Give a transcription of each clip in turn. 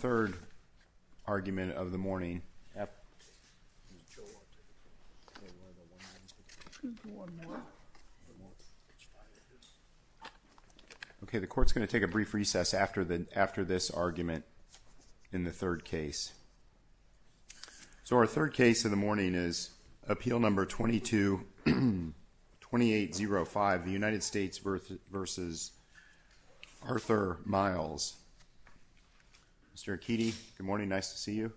The court is going to take a brief recess after this argument in the third case. So our third case of the morning is appeal number 22-2805, the United States v. Arthur Miles. Mr. Akiti, good morning, nice to see you.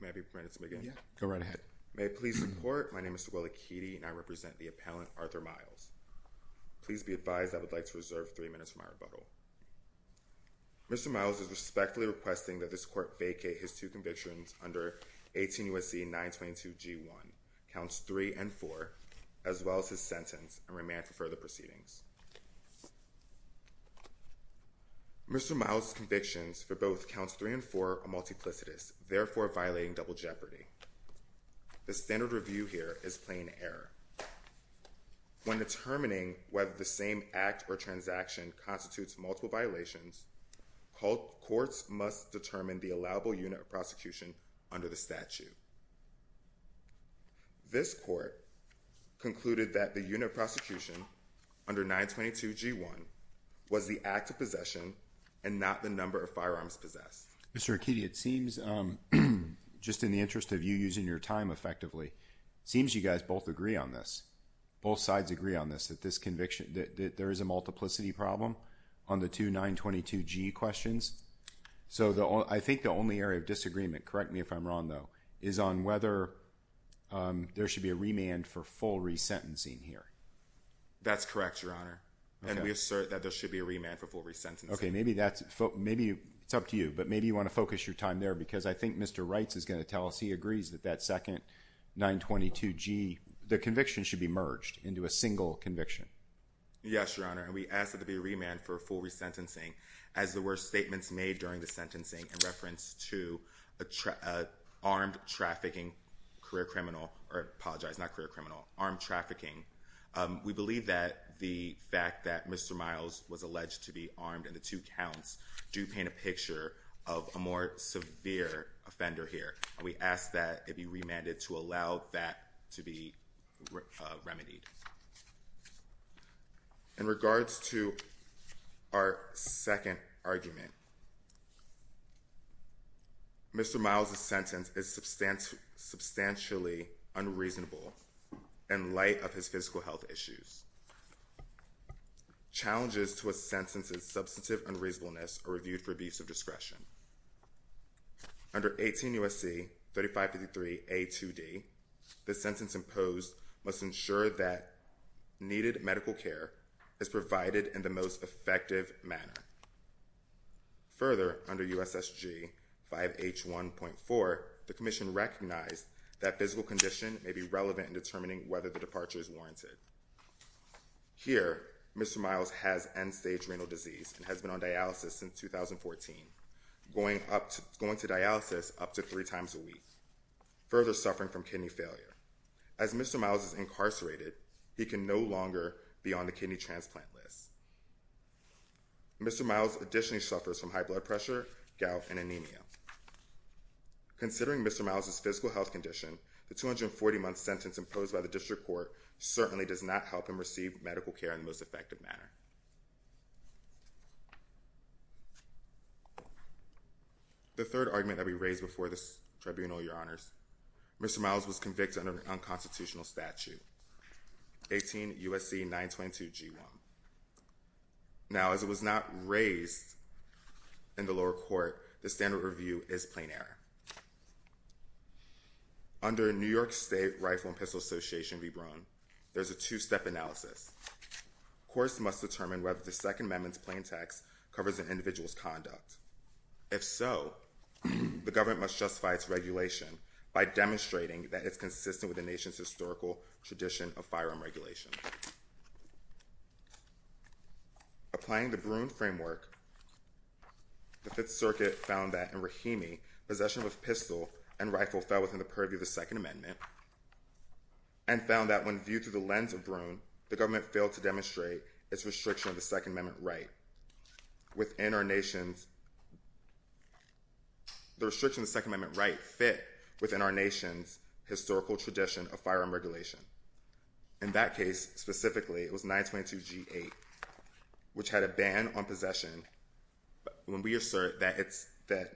May I be permitted to begin? Yes, go right ahead. My name is Will Akiti and I represent the appellant, Arthur Miles. Please be advised I would like to reserve three minutes for my rebuttal. Mr. Miles is respectfully requesting that this court vacate his two convictions under 18 U.S.C. 922 G1, counts 3 and 4, as well as his sentence and remand for further proceedings. Mr. Miles' convictions for both counts 3 and 4 are multiplicitous, therefore violating double jeopardy. The standard review here is plain error. When determining whether the same act or transaction constitutes multiple violations, courts must determine the allowable unit of prosecution under the statute. This court concluded that the unit of prosecution under 922 G1 was the act of possession and not the number of firearms possessed. Mr. Akiti, it seems just in the interest of you using your time effectively, it seems you guys both agree on this. Both sides agree on this, that there is a multiplicity problem on the two 922 G questions. So I think the only area of disagreement, correct me if I'm wrong though, is on whether there should be a remand for full resentencing here. That's correct, Your Honor, and we assert that there should be a remand for full resentencing. Okay, maybe it's up to you, but maybe you want to focus your time there because I think Mr. Reitz is going to tell us he agrees that that second 922 G, the conviction should be merged into a single conviction. Yes, Your Honor, and we ask that there be a remand for full resentencing as there were statements made during the sentencing in reference to armed trafficking, career criminal, or I apologize, not career criminal, armed trafficking. We believe that the fact that Mr. Miles was alleged to be armed in the two counts do paint a picture of a more severe offender here. We ask that it be remanded to allow that to be remedied. In regards to our second argument, Mr. Miles' sentence is substantially unreasonable in light of his physical health issues. Challenges to a sentence's substantive unreasonableness are reviewed for abuse of discretion. Under 18 U.S.C. 3553 A2D, the sentence imposed must ensure that needed medical care is provided in the most effective manner. Further, under U.S.S.G. 5H1.4, the commission recognized that physical condition may be Here, Mr. Miles has end-stage renal disease and has been on dialysis since 2014, going to dialysis up to three times a week, further suffering from kidney failure. As Mr. Miles is incarcerated, he can no longer be on the kidney transplant list. Mr. Miles additionally suffers from high blood pressure, gout, and anemia. Considering Mr. Miles' physical health condition, the 240-month sentence imposed by the district court certainly does not help him receive medical care in the most effective manner. The third argument that we raised before this tribunal, your honors, Mr. Miles was convicted under an unconstitutional statute, 18 U.S.C. 922 G1. Now as it was not raised in the lower court, the standard review is plain error. Under New York State Rifle and Pistol Association v. Bruin, there's a two-step analysis. Courts must determine whether the Second Amendment's plain text covers an individual's conduct. If so, the government must justify its regulation by demonstrating that it's consistent with the nation's historical tradition of firearm regulation. Applying the Bruin framework, the Fifth Circuit found that in Rahimi, possession of a pistol and rifle fell within the purview of the Second Amendment, and found that when viewed through the lens of Bruin, the government failed to demonstrate its restriction of the Second Amendment right within our nation's, the restriction of the Second Amendment right fit within our nation's historical tradition of firearm regulation. In that case, specifically, it was 922 G8, which had a ban on possession, but when we assert that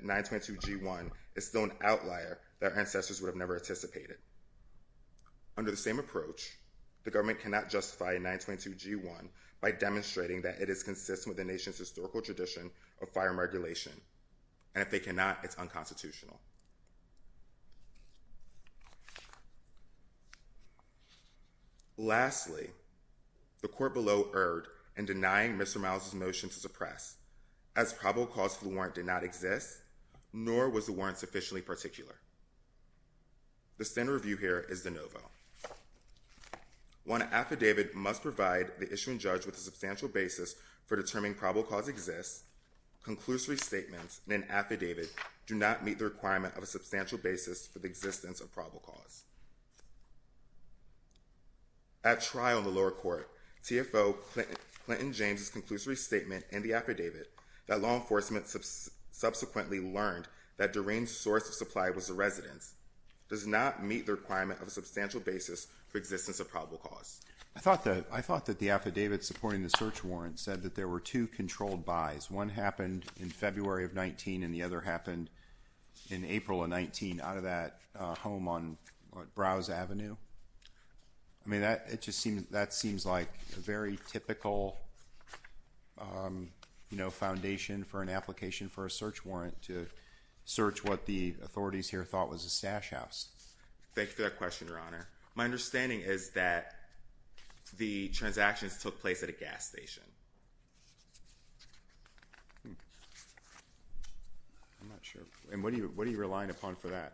922 G1 is still an outlier, their ancestors would have never anticipated. Under the same approach, the government cannot justify 922 G1 by demonstrating that it is consistent with the nation's historical tradition of firearm regulation, and if they cannot, it's unconstitutional. Lastly, the court below erred in denying Mr. Miles' motion to suppress, as probable cause for the warrant did not exist, nor was the warrant sufficiently particular. The standard review here is de novo. One affidavit must provide the issuing judge with a substantial basis for determining probable cause exists, conclusory statements in an affidavit do not meet the requirement of a At trial in the lower court, TFO Clinton James' conclusory statement in the affidavit that law enforcement subsequently learned that Doreen's source of supply was the residence does not meet the requirement of a substantial basis for existence of probable cause. I thought that, I thought that the affidavit supporting the search warrant said that there were two controlled buys. One happened in February of 19 and the other happened in April of 19 out of that home on Browse Avenue. I mean, that, it just seems, that seems like a very typical, you know, foundation for an application for a search warrant to search what the authorities here thought was a stash house. Thank you for that question, Your Honor. My understanding is that the transactions took place at a gas station. I'm not sure. And what are you relying upon for that?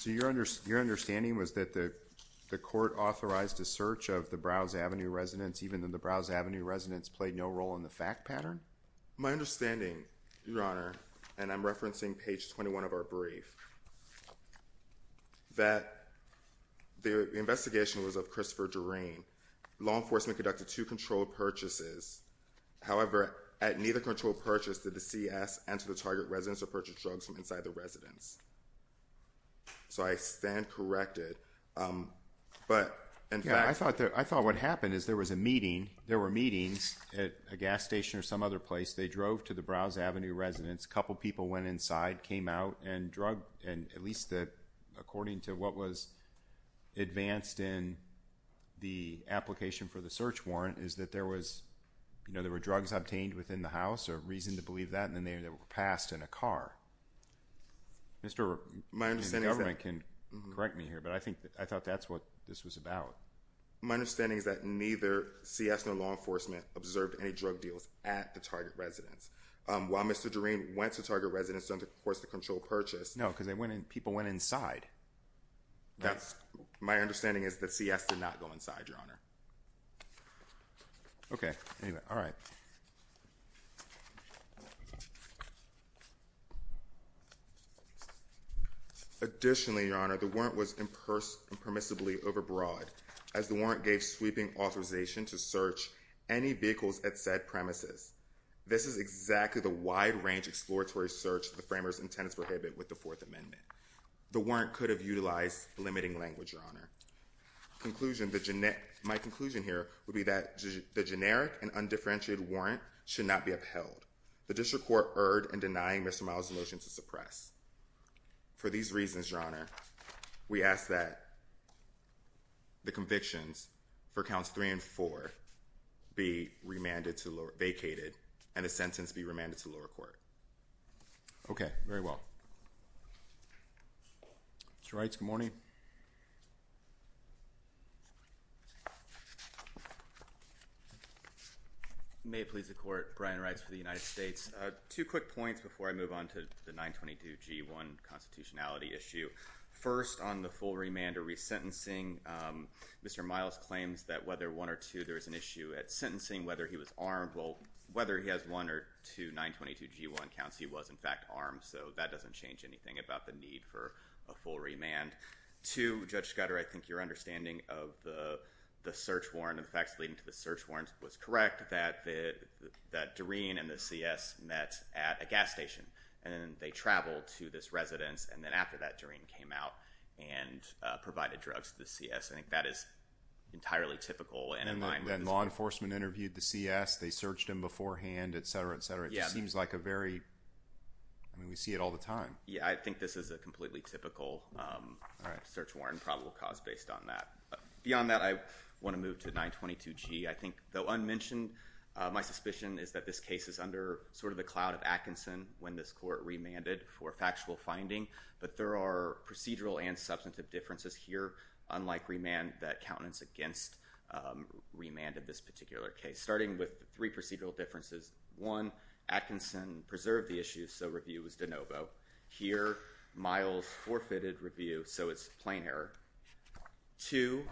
So, your understanding was that the court authorized a search of the Browse Avenue residence even though the Browse Avenue residence played no role in the fact pattern? My understanding, Your Honor, and I'm referencing page 21 of our brief, that the investigation was of Christopher Doreen. Law enforcement conducted two controlled purchases. However, at neither controlled purchase did the CS enter the target residence or purchase drugs from inside the residence. So I stand corrected. But, in fact, I thought what happened is there was a meeting, there were meetings at a gas station or some other place. They drove to the Browse Avenue residence. Couple people went inside, came out, and drug, and at least according to what was advanced in the application for the search warrant is that there was, you know, there were drugs obtained within the house or reason to believe that and then they were passed in a car. My understanding is that neither CS nor law enforcement observed any drug deals at the target residence. While Mr. Doreen went to target residence during the course of the controlled purchase. No, because people went inside. My understanding is that CS did not go inside, Your Honor. Okay. Anyway. All right. Additionally, Your Honor, the warrant was impermissibly overbroad as the warrant gave sweeping authorization to search any vehicles at said premises. This is exactly the wide range exploratory search the framers intend to prohibit with The warrant could have utilized limiting language, Your Honor. Conclusion, the, my conclusion here would be that the generic and undifferentiated warrant should not be upheld. The district court erred in denying Mr. Miles' motion to suppress. For these reasons, Your Honor, we ask that the convictions for counts three and four be remanded to lower, vacated, and the sentence be remanded to lower court. Okay. Very well. Mr. Reitz, good morning. May it please the court. Brian Reitz for the United States. Two quick points before I move on to the 922G1 constitutionality issue. First on the full remand or resentencing, Mr. Miles claims that whether one or two there is an issue at sentencing, whether he was armed, well, whether he has one or two 922G1 counts, he was, in fact, armed, so that doesn't change anything about the need for a full remand. Two, Judge Scudder, I think your understanding of the search warrant and the facts leading to the search warrant was correct that Doreen and the CS met at a gas station and they traveled to this residence and then after that, Doreen came out and provided drugs to the CS. I think that is entirely typical and in line with the- And then law enforcement interviewed the CS, they searched him beforehand, et cetera, et cetera. Yeah. Which seems like a very, I mean, we see it all the time. Yeah, I think this is a completely typical search warrant probable cause based on that. Beyond that, I want to move to 922G. I think though unmentioned, my suspicion is that this case is under sort of the cloud of Atkinson when this court remanded for factual finding, but there are procedural and substantive differences here unlike remand that countenance against remand in this particular case. Starting with three procedural differences, one, Atkinson preserved the issue, so review was de novo. Here, Miles forfeited review, so it's plain error. Two,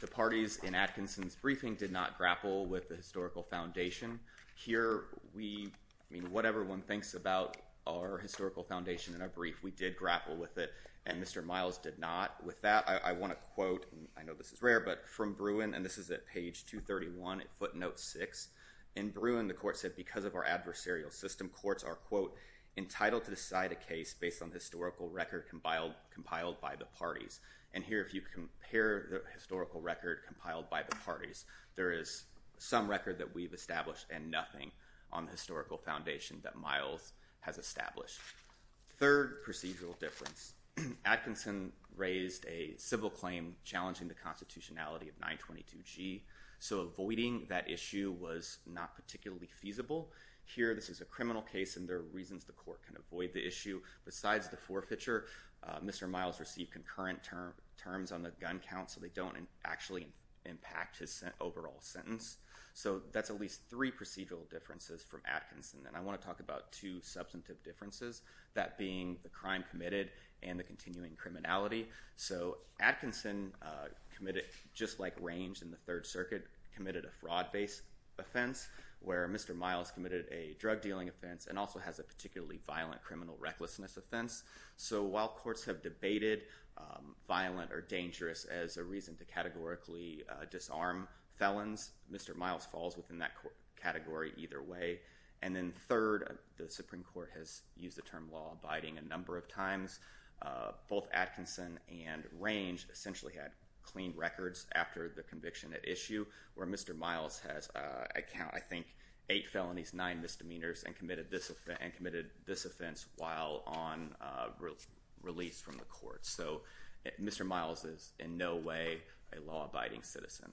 the parties in Atkinson's briefing did not grapple with the historical foundation. Here we, I mean, whatever one thinks about our historical foundation in a brief, we did grapple with it and Mr. Miles did not. With that, I want to quote, and I know this is rare, but from Bruin, and this is at page 231 at footnote six, in Bruin, the court said, because of our adversarial system, courts are, quote, entitled to decide a case based on historical record compiled by the parties. And here, if you compare the historical record compiled by the parties, there is some record that we've established and nothing on the historical foundation that Miles has established. Third procedural difference, Atkinson raised a civil claim challenging the constitutionality of 922G, so avoiding that issue was not particularly feasible. Here, this is a criminal case and there are reasons the court can avoid the issue. Besides the forfeiture, Mr. Miles received concurrent terms on the gun count, so they don't actually impact his overall sentence. So that's at least three procedural differences from Atkinson. And I want to talk about two substantive differences, that being the crime committed and the continuing criminality. So Atkinson committed, just like Range in the Third Circuit, committed a fraud based offense, where Mr. Miles committed a drug dealing offense and also has a particularly violent criminal recklessness offense. So while courts have debated violent or dangerous as a reason to categorically disarm felons, Mr. Miles falls within that category either way. And then third, the Supreme Court has used the term law-abiding a number of times. Both Atkinson and Range essentially had clean records after the conviction at issue, where Mr. Miles has, I think, eight felonies, nine misdemeanors, and committed this offense while on release from the court. So Mr. Miles is in no way a law-abiding citizen.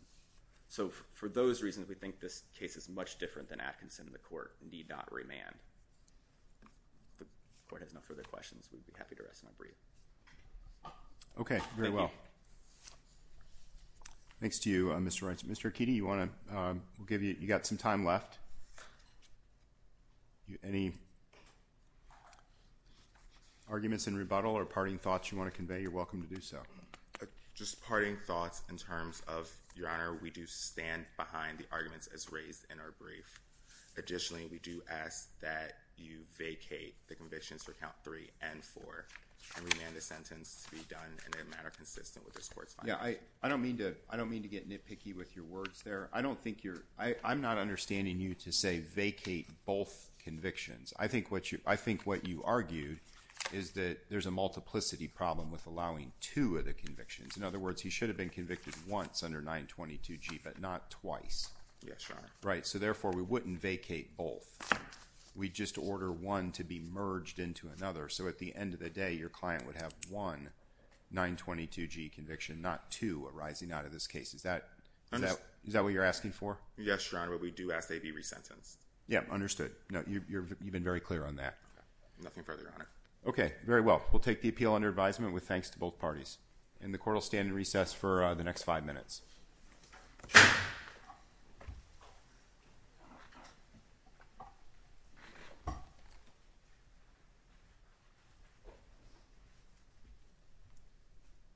So for those reasons, we think this case is much different than Atkinson, and the court need not remand. If the court has no further questions, we'd be happy to rest and unbrief. Okay. Very well. Thank you. Thanks to you, Mr. Wright. Mr. Akiti, you want to, we'll give you, you've got some time left. Any arguments in rebuttal or parting thoughts you want to convey, you're welcome to do so. Just parting thoughts in terms of, Your Honor, we do stand behind the arguments as raised in our brief. Additionally, we do ask that you vacate the convictions for count three and four and remand the sentence to be done in a manner consistent with this court's findings. I don't mean to get nitpicky with your words there. I don't think you're, I'm not understanding you to say vacate both convictions. I think what you argued is that there's a multiplicity problem with allowing two of the convictions. In other words, he should have been convicted once under 922G, but not twice. Yes, Your Honor. Right. So, therefore, we wouldn't vacate both. We just order one to be merged into another. So, at the end of the day, your client would have one 922G conviction, not two arising out of this case. Is that what you're asking for? Yes, Your Honor. But we do ask they be resentenced. Yeah. Understood. No, you've been very clear on that. Okay. Nothing further, Your Honor. Okay. Very well. We'll take the appeal under advisement with thanks to both parties. And the court will stand in recess for the next five minutes.